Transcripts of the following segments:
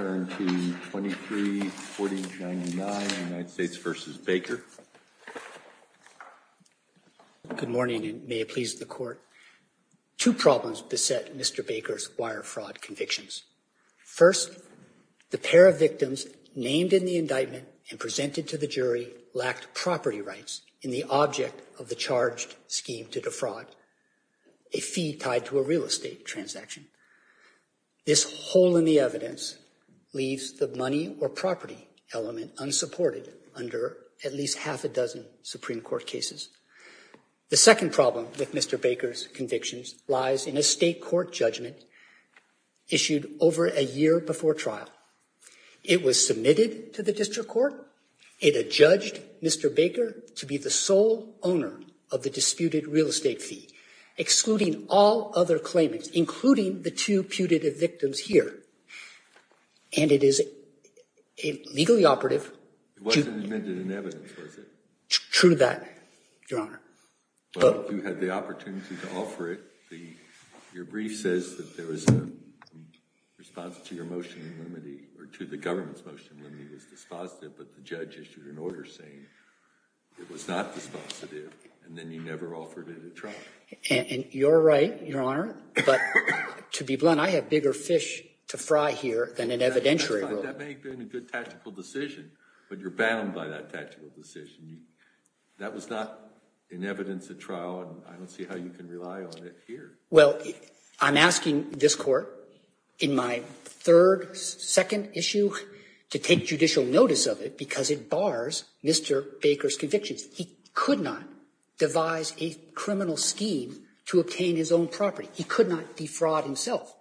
Good morning and may it please the court. Two problems beset Mr. Baker's wire fraud convictions. First, the pair of victims named in the indictment and presented to the jury lacked property rights in the object of the charged scheme to defraud, a fee tied to a real estate transaction. This hole in the evidence leaves the money or property element unsupported under at least half a dozen Supreme Court cases. The second problem with Mr. Baker's convictions lies in a state court judgment issued over a year before trial. It was submitted to the district court. It adjudged Mr. Baker to be the sole owner of the disputed real estate fee, excluding all other claimants, including the two putative victims here. And it is legally operative. It wasn't admitted in evidence, was it? True to that, Your Honor. But you had the opportunity to offer it. Your brief says that there was a response to your motion in limine or to the government's motion when he was dispositive, but the judge issued an order saying it was not dispositive, and then you never offered it at trial. And you're right, Your Honor. But to be blunt, I have bigger fish to fry here than an evidentiary rule. That may have been a good tactical decision, but you're bound by that tactical decision. That was not in evidence at trial, and I don't see how you can rely on it here. Well, I'm asking this court in my third, second issue to take judicial notice of it because it bars Mr. Baker's convictions. He could not devise a criminal scheme to obtain his own property. He could not defraud himself.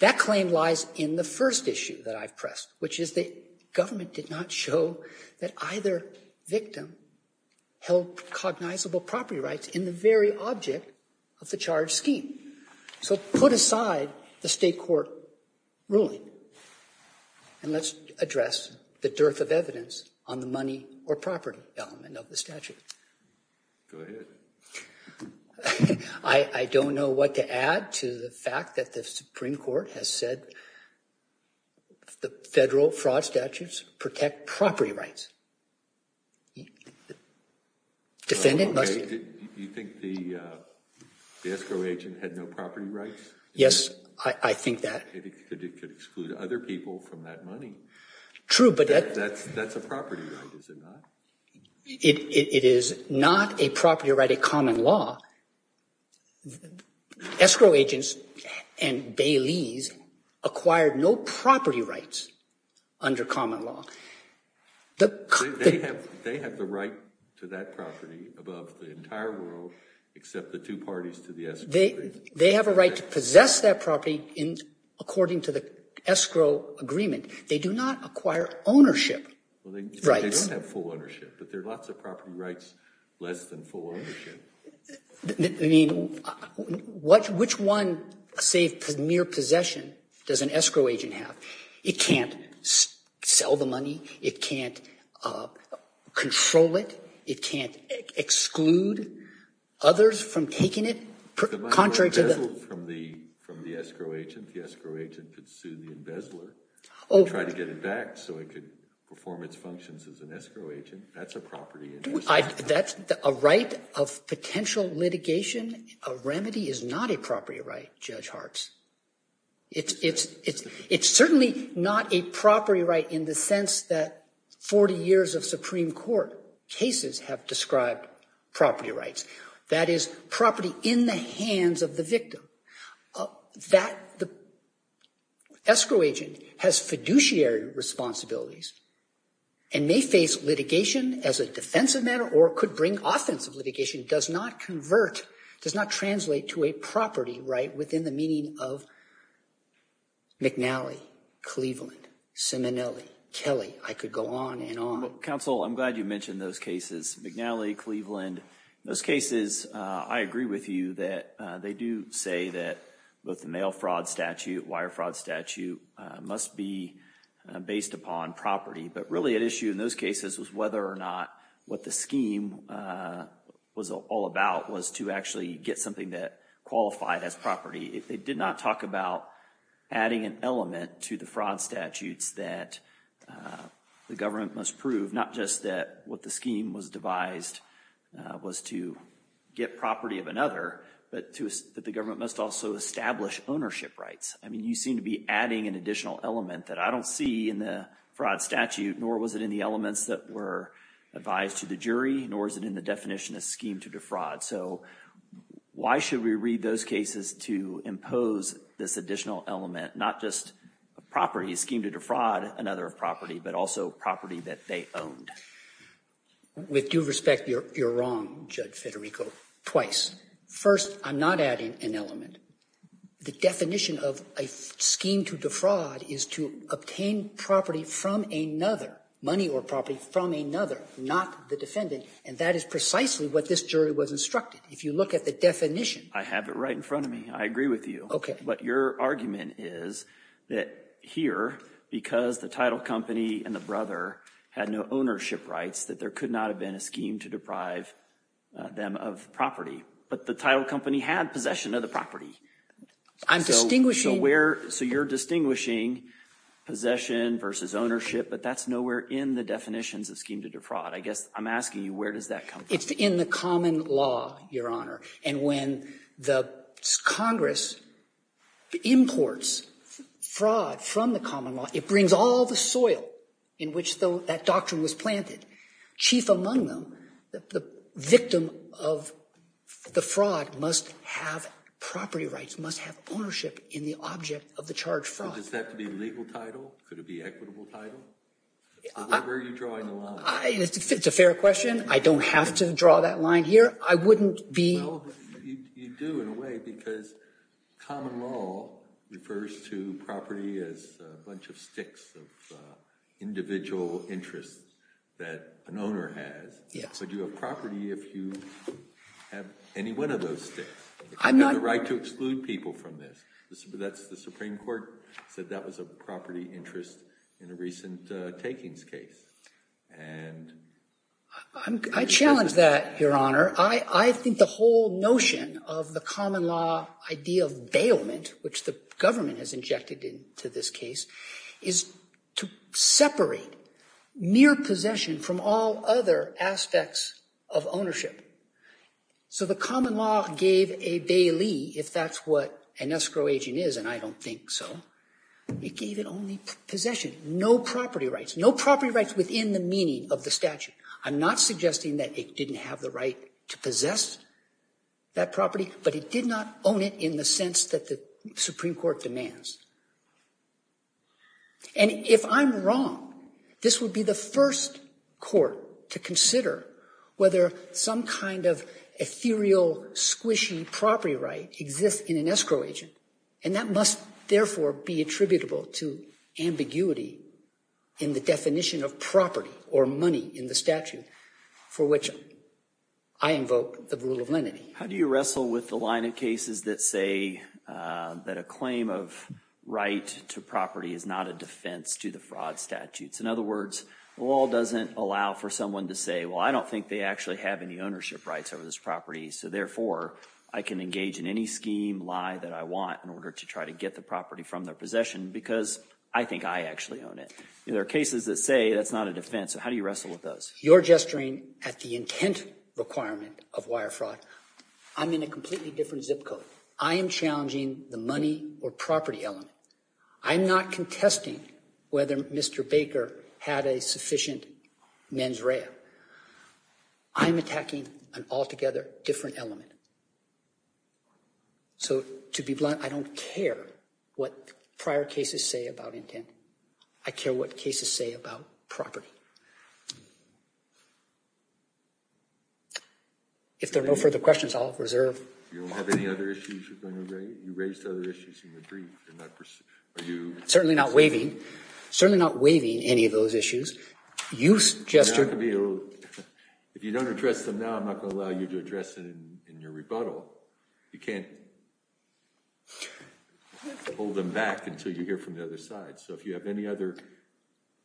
That claim lies in the first issue that I've pressed, which is the government did not show that either victim held cognizable property rights in the very object of the charged scheme. So put aside the state court ruling, and let's address the dearth of evidence on the money or property element of the statute. Go ahead. I don't know what to add to the fact that the Supreme Court has said the federal fraud statutes protect property rights. Do you think the escrow agent had no property rights? Yes, I think that. It could exclude other people from that money. True, but that's a property right, is it not? It is not a property right at common law. Escrow agents and baileys acquired no property rights under common law. They have the right to that property above the entire world except the two parties to the escrow agency. They have a right to possess that property according to the escrow agreement. They do not acquire ownership rights. They don't have full ownership, but there are lots of property rights less than full ownership. I mean, which one, save mere possession, does an escrow agent have? It can't sell the money. It can't control it. It can't exclude others from taking it. If the money was embezzled from the escrow agent, the escrow agent could sue the embezzler and try to get it back so it could perform its functions as an escrow agent. That's a property interest. It's in the hands of the victim. That the escrow agent has fiduciary responsibilities and may face litigation as a defensive matter or could bring offensive litigation does not convert, does not translate to a property right within the meaning of McNally, Cleveland, Simonelli, Kelly. I could go on and on. Counsel, I'm glad you mentioned those cases. McNally, Cleveland, those cases, I agree with you that they do say that both the mail fraud statute, wire fraud statute must be based upon property. But really at issue in those cases was whether or not what the scheme was all about was to actually get something that qualified as property. It did not talk about adding an element to the fraud statutes that the government must prove, not just that what the scheme was devised was to get property of another, but that the government must also establish ownership rights. I mean, you seem to be adding an additional element that I don't see in the fraud statute, nor was it in the elements that were advised to the jury, nor is it in the definition of scheme to defraud. So why should we read those cases to impose this additional element, not just a property scheme to defraud another property, but also property that they owned? With due respect, you're wrong, Judge Federico, twice. First, I'm not adding an element. The definition of a scheme to defraud is to obtain property from another, money or property from another, not the defendant, and that is precisely what this jury was instructed. If you look at the definition. I have it right in front of me. I agree with you. Okay. But your argument is that here, because the title company and the brother had no ownership rights, that there could not have been a scheme to deprive them of property. But the title company had possession of the property. I'm distinguishing. So you're distinguishing possession versus ownership, but that's nowhere in the definitions of scheme to defraud. I guess I'm asking you, where does that come from? It's in the common law, Your Honor. And when the Congress imports fraud from the common law, it brings all the soil in which that doctrine was planted. Chief among them, the victim of the fraud must have property rights, must have ownership in the object of the charge fraud. Does that have to be legal title? Could it be equitable title? Where are you drawing the line? It's a fair question. I don't have to draw that line here. I wouldn't be— Well, you do in a way, because common law refers to property as a bunch of sticks of individual interests that an owner has. Yes. But you have property if you have any one of those sticks. I'm not— You have the right to exclude people from this. That's the Supreme Court said that was a property interest in a recent takings case. And— I challenge that, Your Honor. I think the whole notion of the common law idea of bailment, which the government has injected into this case, is to separate mere possession from all other aspects of ownership. So the common law gave a bailee, if that's what an escrow agent is, and I don't think so, it gave it only possession, no property rights. No property rights within the meaning of the statute. I'm not suggesting that it didn't have the right to possess that property, but it did not own it in the sense that the Supreme Court demands. And if I'm wrong, this would be the first court to consider whether some kind of ethereal, squishy property right exists in an escrow agent. And that must, therefore, be attributable to ambiguity in the definition of property or money in the statute for which I invoke the rule of lenity. How do you wrestle with the line of cases that say that a claim of right to property is not a defense to the fraud statutes? In other words, the law doesn't allow for someone to say, well, I don't think they actually have any ownership rights over this property. So therefore, I can engage in any scheme, lie that I want in order to try to get the property from their possession because I think I actually own it. There are cases that say that's not a defense. So how do you wrestle with those? You're gesturing at the intent requirement of wire fraud. I'm in a completely different zip code. I am challenging the money or property element. I'm not contesting whether Mr. Baker had a sufficient mens rea. I'm attacking an altogether different element. So to be blunt, I don't care what prior cases say about intent. I care what cases say about property. If there are no further questions, I'll reserve. You don't have any other issues you're going to raise? You raised other issues in your brief. Are you... Certainly not waiving. Certainly not waiving any of those issues. You gestured... If you don't address them now, I'm not going to allow you to address it in your rebuttal. You can't hold them back until you hear from the other side. So if you have any other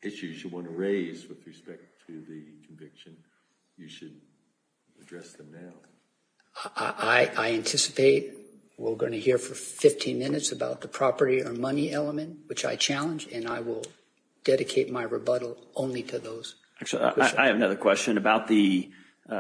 issues you want to raise with respect to the conviction, you should address them now. I anticipate we're going to hear for 15 minutes about the property or money element, which I challenge. And I will dedicate my rebuttal only to those. Actually, I have another question about the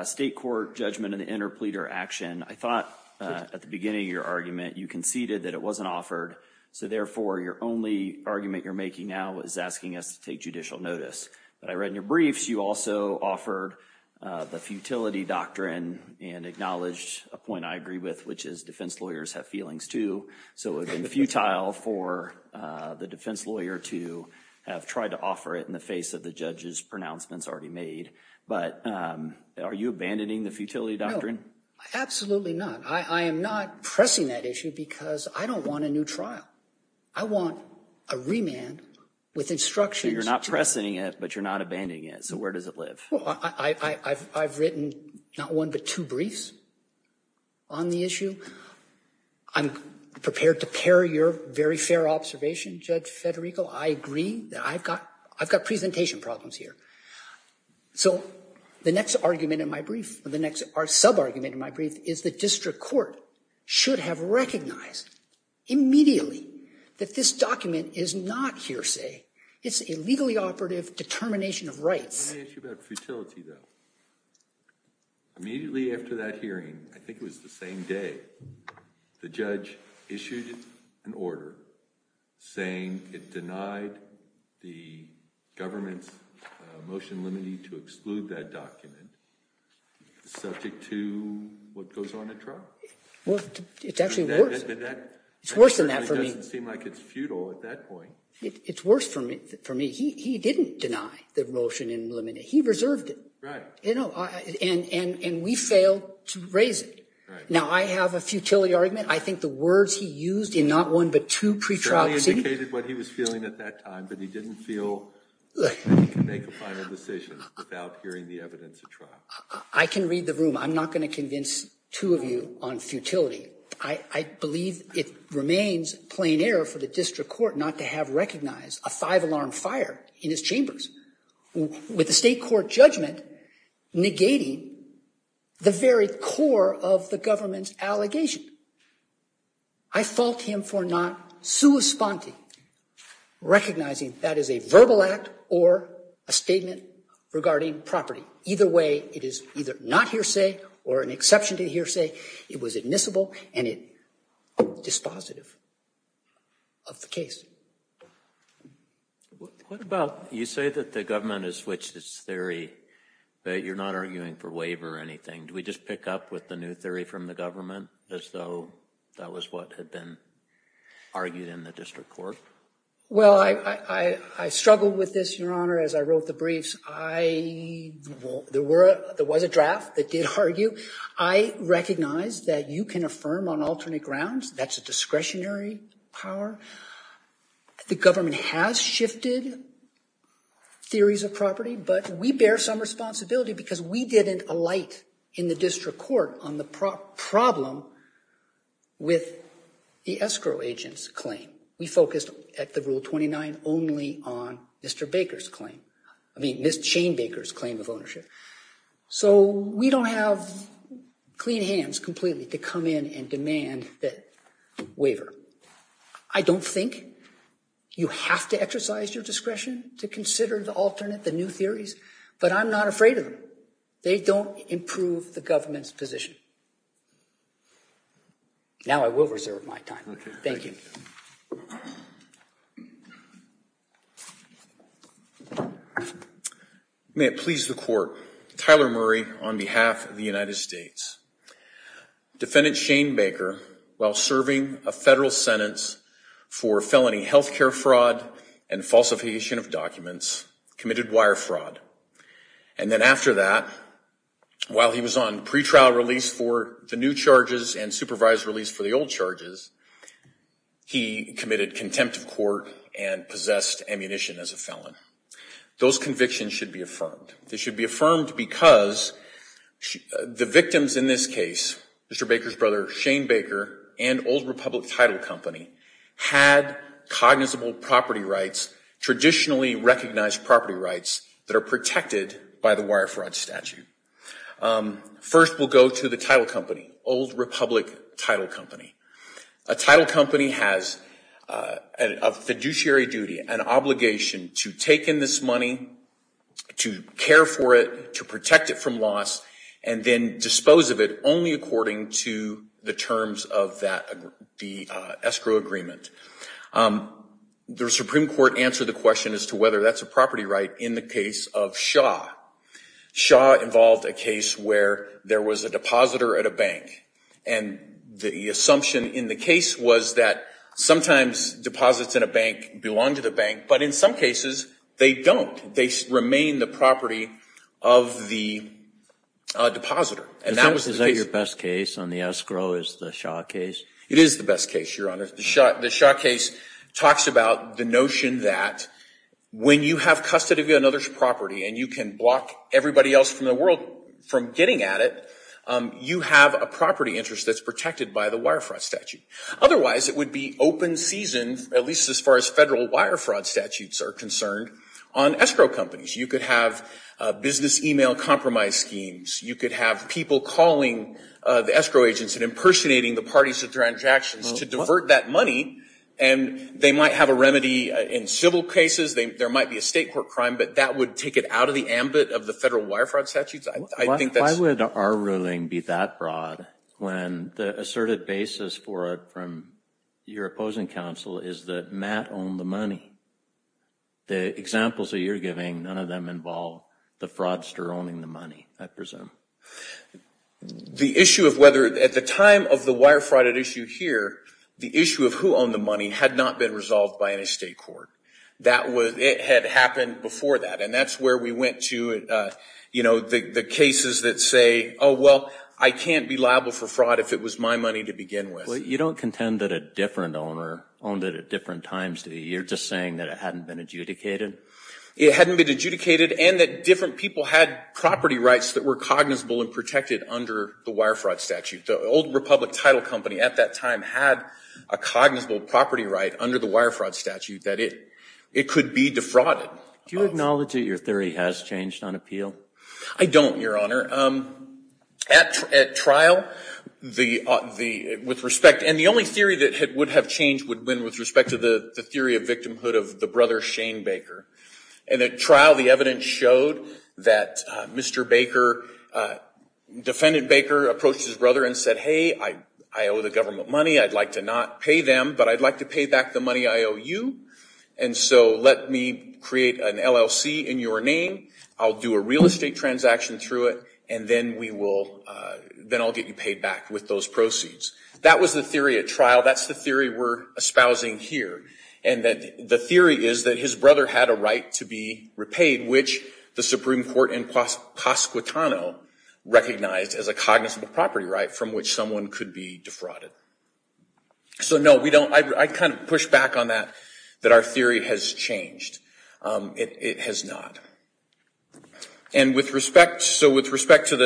state court judgment in the interpleader action. I thought at the beginning of your argument, you conceded that it wasn't offered. So therefore, your only argument you're making now is asking us to take judicial notice. But I read in your briefs, you also offered the futility doctrine and acknowledged a point I agree with, which is defense lawyers have feelings too. So it would be futile for the defense lawyer to have tried to offer it in the face of the judge's pronouncements already made. But are you abandoning the futility doctrine? Absolutely not. I am not pressing that issue because I don't want a new trial. I want a remand with instructions. You're not pressing it, but you're not abandoning it. So where does it live? Well, I've written not one, but two briefs on the issue. I'm prepared to pair your very fair observation, Judge Federico. I agree that I've got presentation problems here. So the next argument in my brief, or the next sub-argument in my brief, is the district court should have recognized immediately that this document is not hearsay. It's a legally operative determination of rights. Let me ask you about futility, though. Immediately after that hearing, I think it was the same day, the judge issued an order saying it denied the government's motion limiting to exclude that document, subject to what goes on in trial. Well, it's actually worse. It's worse than that for me. It doesn't seem like it's futile at that point. It's worse for me. He didn't deny the motion and limit it. He reserved it. And we failed to raise it. Now, I have a futility argument. I think the words he used in not one, but two pre-trial proceedings. He indicated what he was feeling at that time, but he didn't feel he could make a final decision without hearing the evidence at trial. I can read the room. I'm not going to convince two of you on futility. I believe it remains plain error for the district court not to have recognized a five-alarm fire in his chambers. With the state court judgment negating the very core of the government's allegation. I fault him for not sua sponte, recognizing that is a verbal act or a statement regarding property. Either way, it is either not hearsay or an exception to hearsay. It was admissible and dispositive of the case. What about you say that the government has switched its theory, but you're not arguing for waiver or anything. Do we just pick up with the new theory from the government as though that was what had been argued in the district court? Well, I struggled with this, Your Honor, as I wrote the briefs. There was a draft that did argue. I recognize that you can affirm on alternate grounds that's a discretionary power. The government has shifted theories of property, but we bear some responsibility because we didn't alight in the district court on the problem with the escrow agent's claim. We focused at the Rule 29 only on Mr. Baker's claim. I mean, Ms. Shane Baker's claim of ownership. So we don't have clean hands completely to come in and demand that waiver. I don't think you have to exercise your discretion to consider the alternate, the new theories, but I'm not afraid of them. They don't improve the government's position. Now I will reserve my time. Thank you. May it please the court. Tyler Murray on behalf of the United States. Defendant Shane Baker, while serving a federal sentence for felony health care fraud and falsification of documents, committed wire fraud. And then after that, while he was on pretrial release for the new charges and supervised release for the old charges, he committed contempt of court and possessed ammunition as a felon. Those convictions should be affirmed. They should be affirmed because the victims in this case, Mr. Baker's brother, Shane Baker, and Old Republic Title Company, had cognizable property rights, traditionally recognized property rights, that are protected by the wire fraud statute. First, we'll go to the title company, Old Republic Title Company. A title company has a fiduciary duty, an obligation to take in this money, to care for it, to protect it from loss, and then dispose of it only according to the terms of the escrow agreement. The Supreme Court answered the question as to whether that's a property right in the case of Shaw. Shaw involved a case where there was a depositor at a bank. And the assumption in the case was that sometimes deposits in a bank belong to the bank. But in some cases, they don't. They remain the property of the depositor. And that was the case. Is that your best case on the escrow is the Shaw case? It is the best case, Your Honor. The Shaw case talks about the notion that when you have custody of another's property and you can block everybody else from the world from getting at it, you have a property interest that's protected by the wire fraud statute. Otherwise, it would be open season, at least as far as federal wire fraud statutes are concerned, on escrow companies. You could have business email compromise schemes. You could have people calling the escrow agents and impersonating the parties of transactions to divert that money. And they might have a remedy in civil cases. There might be a state court crime, but that would take it out of the ambit of the federal wire fraud statutes. Why would our ruling be that broad when the asserted basis for it from your opposing counsel is that Matt owned the money? The examples that you're giving, none of them involve the fraudster owning the money, I presume. The issue of whether, at the time of the wire fraud issue here, the issue of who owned the money had not been resolved by any state court. It had happened before that. And that's where we went to the cases that say, well, I can't be liable for fraud if it was my money to begin with. You don't contend that a different owner owned it at different times to the year, just saying that it hadn't been adjudicated? It hadn't been adjudicated and that different people had property rights that were cognizable and protected under the wire fraud statute. The old Republic Title Company at that time had a cognizable property right under the wire fraud statute that it could be defrauded. Do you acknowledge that your theory has changed on appeal? I don't, Your Honor. At trial, with respect, and the only theory that would have changed would have been with respect to the theory of victimhood of the brother Shane Baker. And at trial, the evidence showed that Mr. Baker, defendant Baker approached his brother and said, hey, I owe the government money. I'd like to not pay them, but I'd like to pay back the money I owe you. And so let me create an LLC in your name, I'll do a real estate transaction through it, and then I'll get you paid back with those proceeds. That was the theory at trial, that's the theory we're espousing here. And the theory is that his brother had a right to be repaid, which the Supreme Court in Pasquitano recognized as a cognizable property right from which someone could be defrauded. So no, I kind of push back on that, that our theory has changed. It has not. And with respect, so with respect to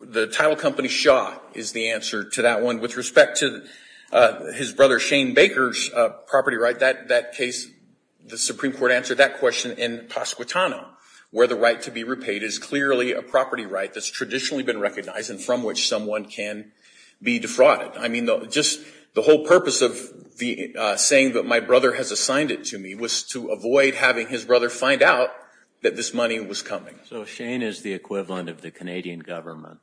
the title company Shaw is the answer to that one. With respect to his brother Shane Baker's property right, that case, the Supreme Court answered that question in Pasquitano, where the right to be repaid is clearly a property right that's traditionally been recognized and from which someone can be defrauded. Just the whole purpose of saying that my brother has assigned it to me was to avoid having his brother find out that this money was coming. So Shane is the equivalent of the Canadian government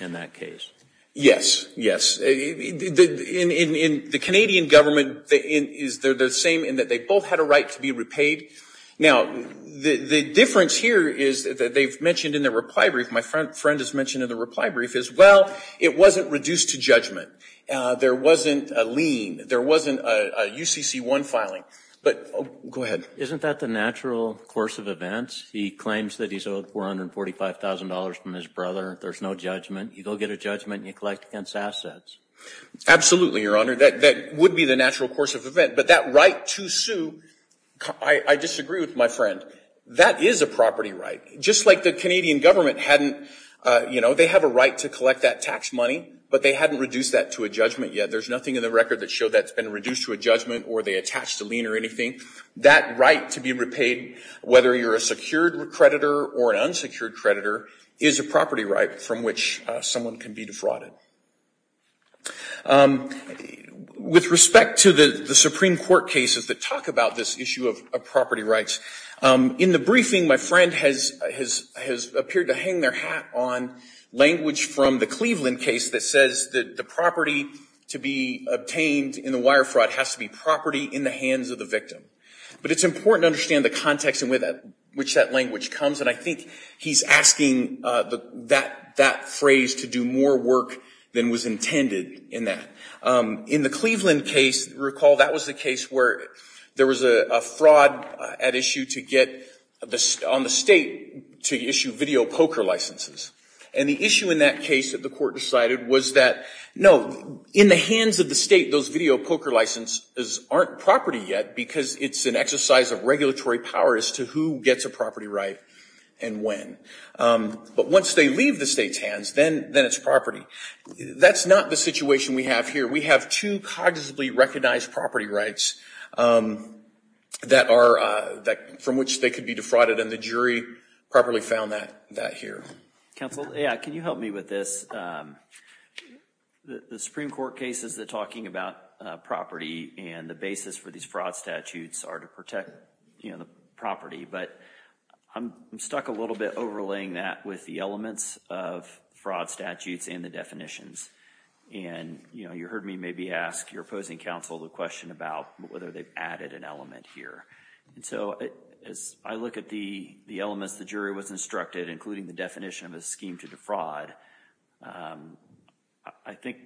in that case? Yes, yes. In the Canadian government, is there the same in that they both had a right to be repaid? Now, the difference here is that they've mentioned in their reply brief, my friend has mentioned in the reply brief, is well, it wasn't reduced to judgment. There wasn't a lien, there wasn't a UCC1 filing, but go ahead. Isn't that the natural course of events? He claims that he's owed $445,000 from his brother, there's no judgment. You go get a judgment and you collect against assets. Absolutely, Your Honor, that would be the natural course of events. But that right to sue, I disagree with my friend. That is a property right. Just like the Canadian government hadn't, they have a right to collect that tax money, but they hadn't reduced that to a judgment yet. There's nothing in the record that showed that's been reduced to a judgment or they attached a lien or anything. That right to be repaid, whether you're a secured creditor or an unsecured creditor, is a property right from which someone can be defrauded. With respect to the Supreme Court cases that talk about this issue of property rights, in the briefing, my friend has appeared to hang their hat on language from the Cleveland case that says that the property to be obtained in the wire fraud has to be property in the hands of the victim. But it's important to understand the context in which that language comes. And I think he's asking that phrase to do more work than was intended in that. In the Cleveland case, recall that was the case where there was a fraud at issue to get on the state to issue video poker licenses. And the issue in that case that the court decided was that, no, in the hands of the state, those video poker licenses aren't property yet because it's an exercise of regulatory power as to who gets a property right and when, but once they leave the state's hands, then it's property. That's not the situation we have here. We have two cognizantly recognized property rights that are, from which they could be defrauded, and the jury properly found that here. Counsel, yeah, can you help me with this? The Supreme Court cases that are talking about property and the basis for these fraud statutes are to protect the property, but I'm stuck a little bit overlaying that with the elements of fraud statutes and the definitions, and you heard me maybe ask your opposing counsel the question about whether they've added an element here, and so as I look at the elements the jury was instructed, including the definition of a scheme to defraud, I think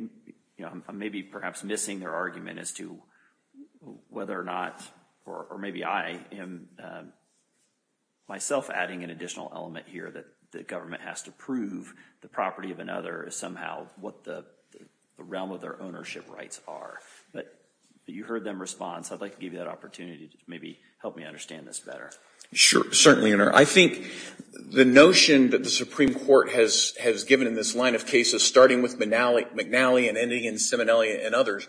I'm maybe perhaps missing their argument as to whether or not, or maybe I am myself adding an additional element here that the government has to prove the property of another somehow, what the realm of their ownership rights are, but you heard them respond, so I'd like to give you that opportunity to maybe help me understand this better. Sure, certainly, and I think the notion that the Supreme Court has given in this line of cases, starting with McNally and ending in Simonelli and others,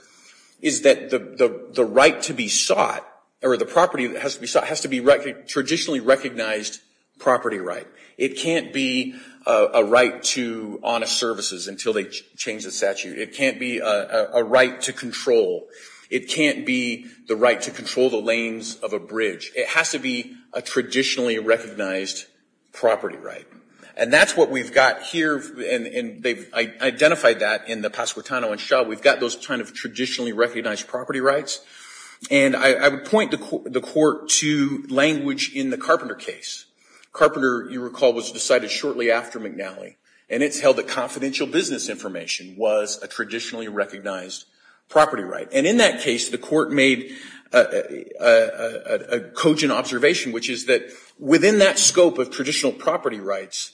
is that the right to be sought, or the property that has to be sought, has to be traditionally recognized property right. It can't be a right to honest services until they change the statute. It can't be a right to control. It can't be the right to control the lanes of a bridge. It has to be a traditionally recognized property right. And that's what we've got here, and they've identified that in the Pasquitano and Shaw, we've got those kind of traditionally recognized property rights. And I would point the court to language in the Carpenter case. Carpenter, you recall, was decided shortly after McNally, and it's held that confidential business information was a traditionally recognized property right, and in that case, the court made a cogent observation, which is that within that scope of traditional property rights,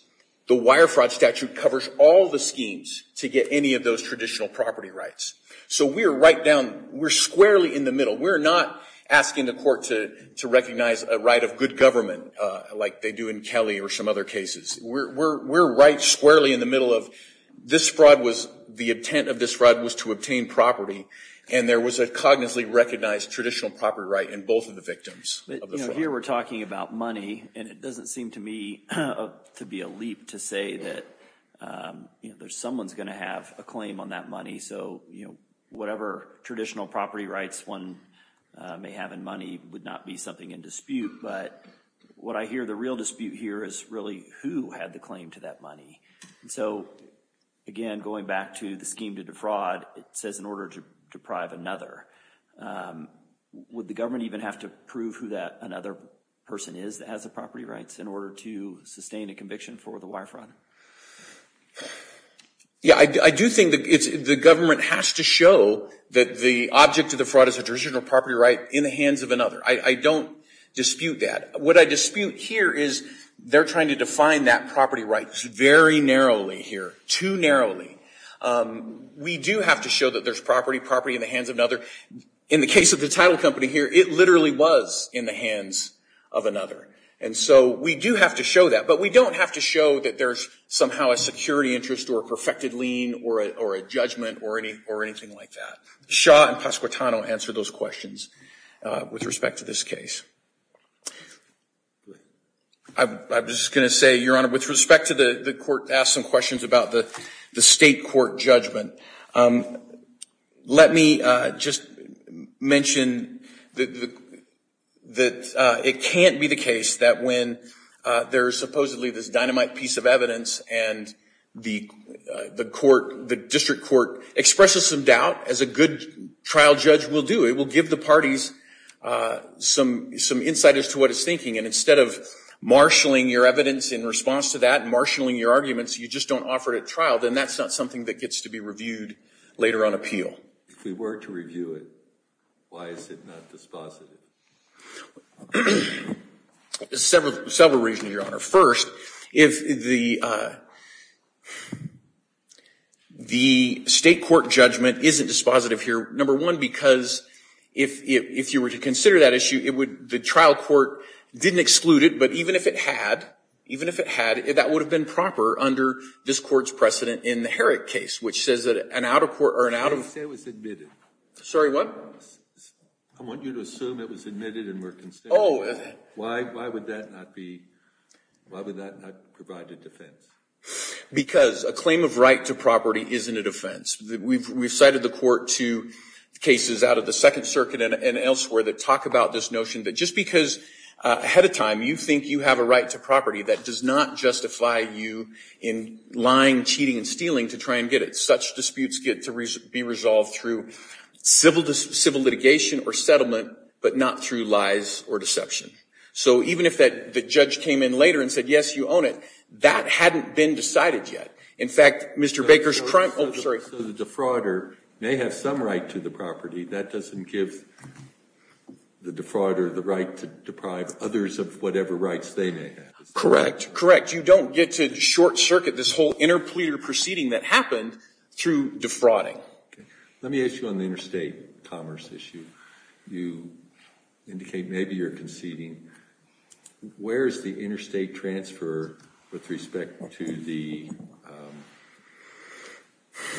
the wire fraud statute covers all the schemes to get any of those traditional property rights, so we're right down, we're squarely in the middle. We're not asking the court to recognize a right of good government, like they do in Kelly or some other cases. We're right squarely in the middle of, this fraud was, the intent of this fraud was to obtain property, and there was a cognizantly recognized traditional property right in both of the victims of the fraud. Here we're talking about money, and it doesn't seem to me to be a leap to say that someone's gonna have a claim on that money, so whatever traditional property rights one may have in money would not be something in dispute, but what I hear the real dispute here is really who had the claim to that money, and so again, going back to the scheme to defraud, it says in order to deprive another. Would the government even have to prove who that another person is that has the property rights in order to sustain a conviction for the wire fraud? Yeah, I do think that the government has to show that the object of the fraud is a traditional property right in the hands of another. I don't dispute that. What I dispute here is they're trying to define that property right very narrowly here, too narrowly. We do have to show that there's property, property in the hands of another. In the case of the title company here, it literally was in the hands of another. And so we do have to show that, but we don't have to show that there's somehow a security interest or a perfected lien or a judgment or anything like that. Shaw and Pasquitano answered those questions with respect to this case. I'm just gonna say, Your Honor, with respect to the court asking some questions about the state court judgment, let me just mention that it can't be the case that when there's supposedly this dynamite piece of evidence and the court, the district court expresses some doubt, as a good trial judge will do. It will give the parties some insight as to what it's thinking. And instead of marshalling your evidence in response to that, marshalling your arguments, you just don't offer it at trial. Then that's not something that gets to be reviewed later on appeal. If we were to review it, why is it not dispositive? There's several reasons, Your Honor. First, if the state court judgment isn't dispositive here. Number one, because if you were to consider that issue, the trial court didn't exclude it, but even if it had, even if it had, that would have been proper under this court's precedent in the Herrick case, which says that an out of court or an out of- I didn't say it was admitted. Sorry, what? I want you to assume it was admitted and we're considering it. Why would that not be, why would that not provide a defense? Because a claim of right to property isn't a defense. We've cited the court to cases out of the Second Circuit and elsewhere that talk about this notion that just because ahead of time, you think you have a right to property that does not justify you in lying, cheating, and stealing to try and get it. Such disputes get to be resolved through civil litigation or settlement, but not through lies or deception. So even if the judge came in later and said, yes, you own it, that hadn't been decided yet. In fact, Mr. Baker's crime, oh, sorry. So the defrauder may have some right to the property. That doesn't give the defrauder the right to deprive others of whatever rights they may have. Correct, correct. But you don't get to short circuit this whole interpleader proceeding that happened through defrauding. Let me ask you on the interstate commerce issue. You indicate maybe you're conceding. Where's the interstate transfer with respect to the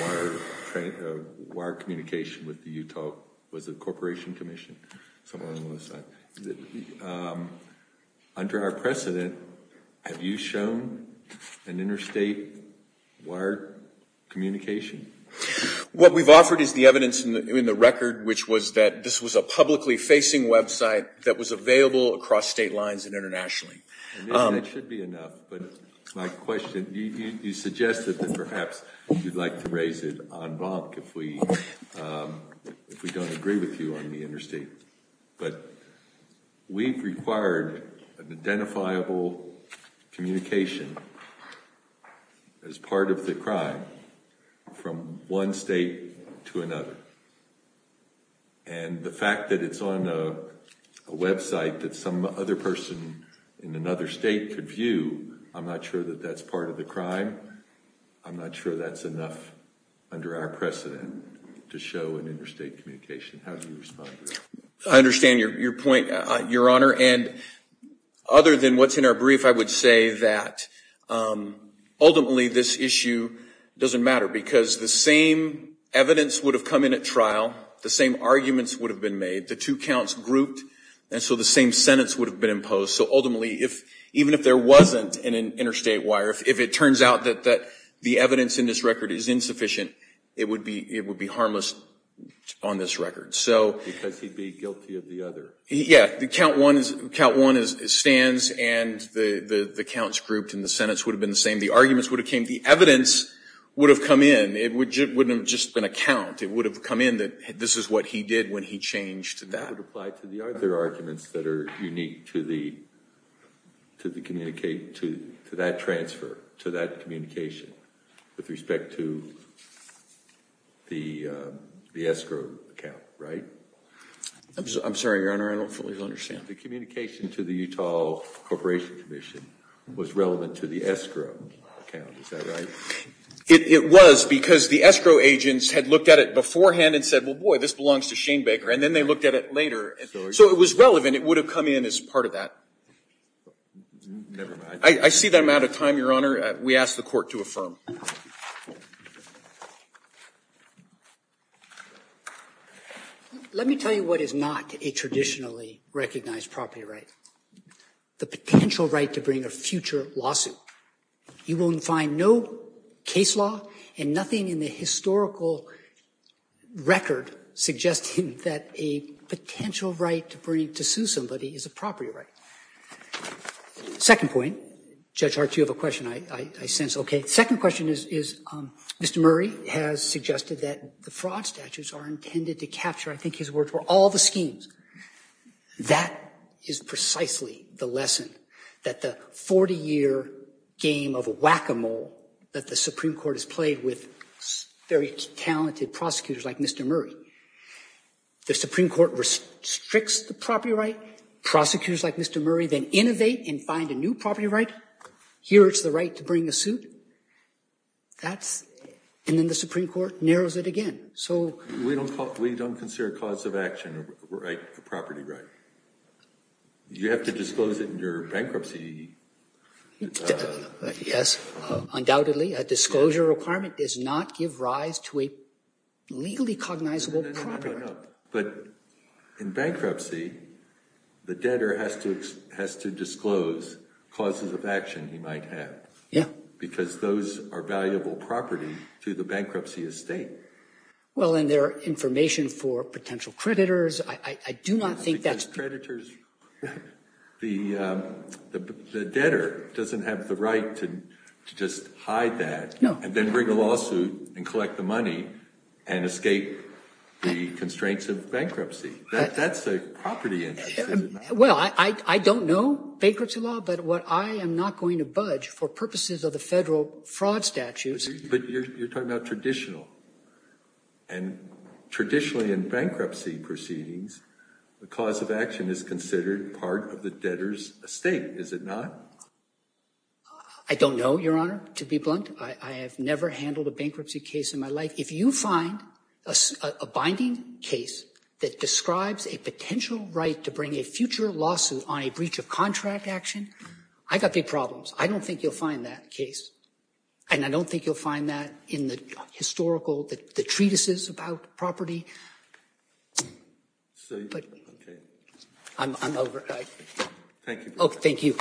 wire communication with the Utah, was it Corporation Commission? Somewhere on the other side. Under our precedent, have you shown an interstate wire communication? What we've offered is the evidence in the record, which was that this was a publicly facing website that was available across state lines and internationally. I mean, that should be enough. But my question, you suggested that perhaps you'd like to raise it on if we don't agree with you on the interstate. But we've required an identifiable communication as part of the crime from one state to another. And the fact that it's on a website that some other person in another state could view, I'm not sure that that's part of the crime. I'm not sure that's enough under our precedent to show an interstate communication. How do you respond to that? I understand your point, Your Honor. And other than what's in our brief, I would say that ultimately, this issue doesn't matter because the same evidence would have come in at trial. The same arguments would have been made. The two counts grouped, and so the same sentence would have been imposed. So ultimately, even if there wasn't an interstate wire, if it turns out that the evidence in this record is insufficient, it would be harmless on this record. Because he'd be guilty of the other. Yeah, count one stands, and the counts grouped, and the sentence would have been the same. The arguments would have came. The evidence would have come in. It wouldn't have just been a count. It would have come in that this is what he did when he changed that. That would apply to the other arguments that are unique to that transfer, to that communication, with respect to the escrow count, right? I'm sorry, Your Honor, I don't fully understand. The communication to the Utah Corporation Commission was relevant to the escrow count. Is that right? It was because the escrow agents had looked at it beforehand and said, well, boy, this belongs to Shane Baker, and then they looked at it later, so it was relevant. It would have come in as part of that. I see that I'm out of time, Your Honor. We ask the Court to affirm. Let me tell you what is not a traditionally recognized property right. The potential right to bring a future lawsuit. You won't find no case law and nothing in the historical record suggesting that a potential right to bring to sue somebody is a property right. Second point, Judge Hart, you have a question, I sense. Okay. Second question is, Mr. Murray has suggested that the fraud statutes are intended to capture, I think his words were, all the schemes. That is precisely the lesson that the 40-year game of whack-a-mole that the Supreme Court has played with very talented prosecutors like Mr. Murray. The Supreme Court restricts the property right. Prosecutors like Mr. Murray then innovate and find a new property right. Here, it's the right to bring a suit. That's, and then the Supreme Court narrows it again. So, we don't consider cause of action a property right. You have to disclose it in your bankruptcy. Yes, undoubtedly. A disclosure requirement does not give rise to a legally cognizable property. But in bankruptcy, the debtor has to disclose causes of action he might have. Yeah. Because those are valuable property to the bankruptcy estate. Well, and they're information for potential creditors. I do not think that's- Because creditors, the debtor doesn't have the right to just hide that. No. And then bring a lawsuit and collect the money and escape the constraints of bankruptcy. That's a property interest, isn't it? Well, I don't know bankruptcy law. But what I am not going to budge, for purposes of the federal fraud statutes- But you're talking about traditional. And traditionally, in bankruptcy proceedings, the cause of action is considered part of the debtor's estate, is it not? I don't know, Your Honor, to be blunt. I have never handled a bankruptcy case in my life. If you find a binding case that describes a potential right to bring a future lawsuit on a breach of contract action, I've got big problems. I don't think you'll find that case. And I don't think you'll find that in the historical, the treatises about property. So, okay. I'm over. Thank you. Oh, thank you.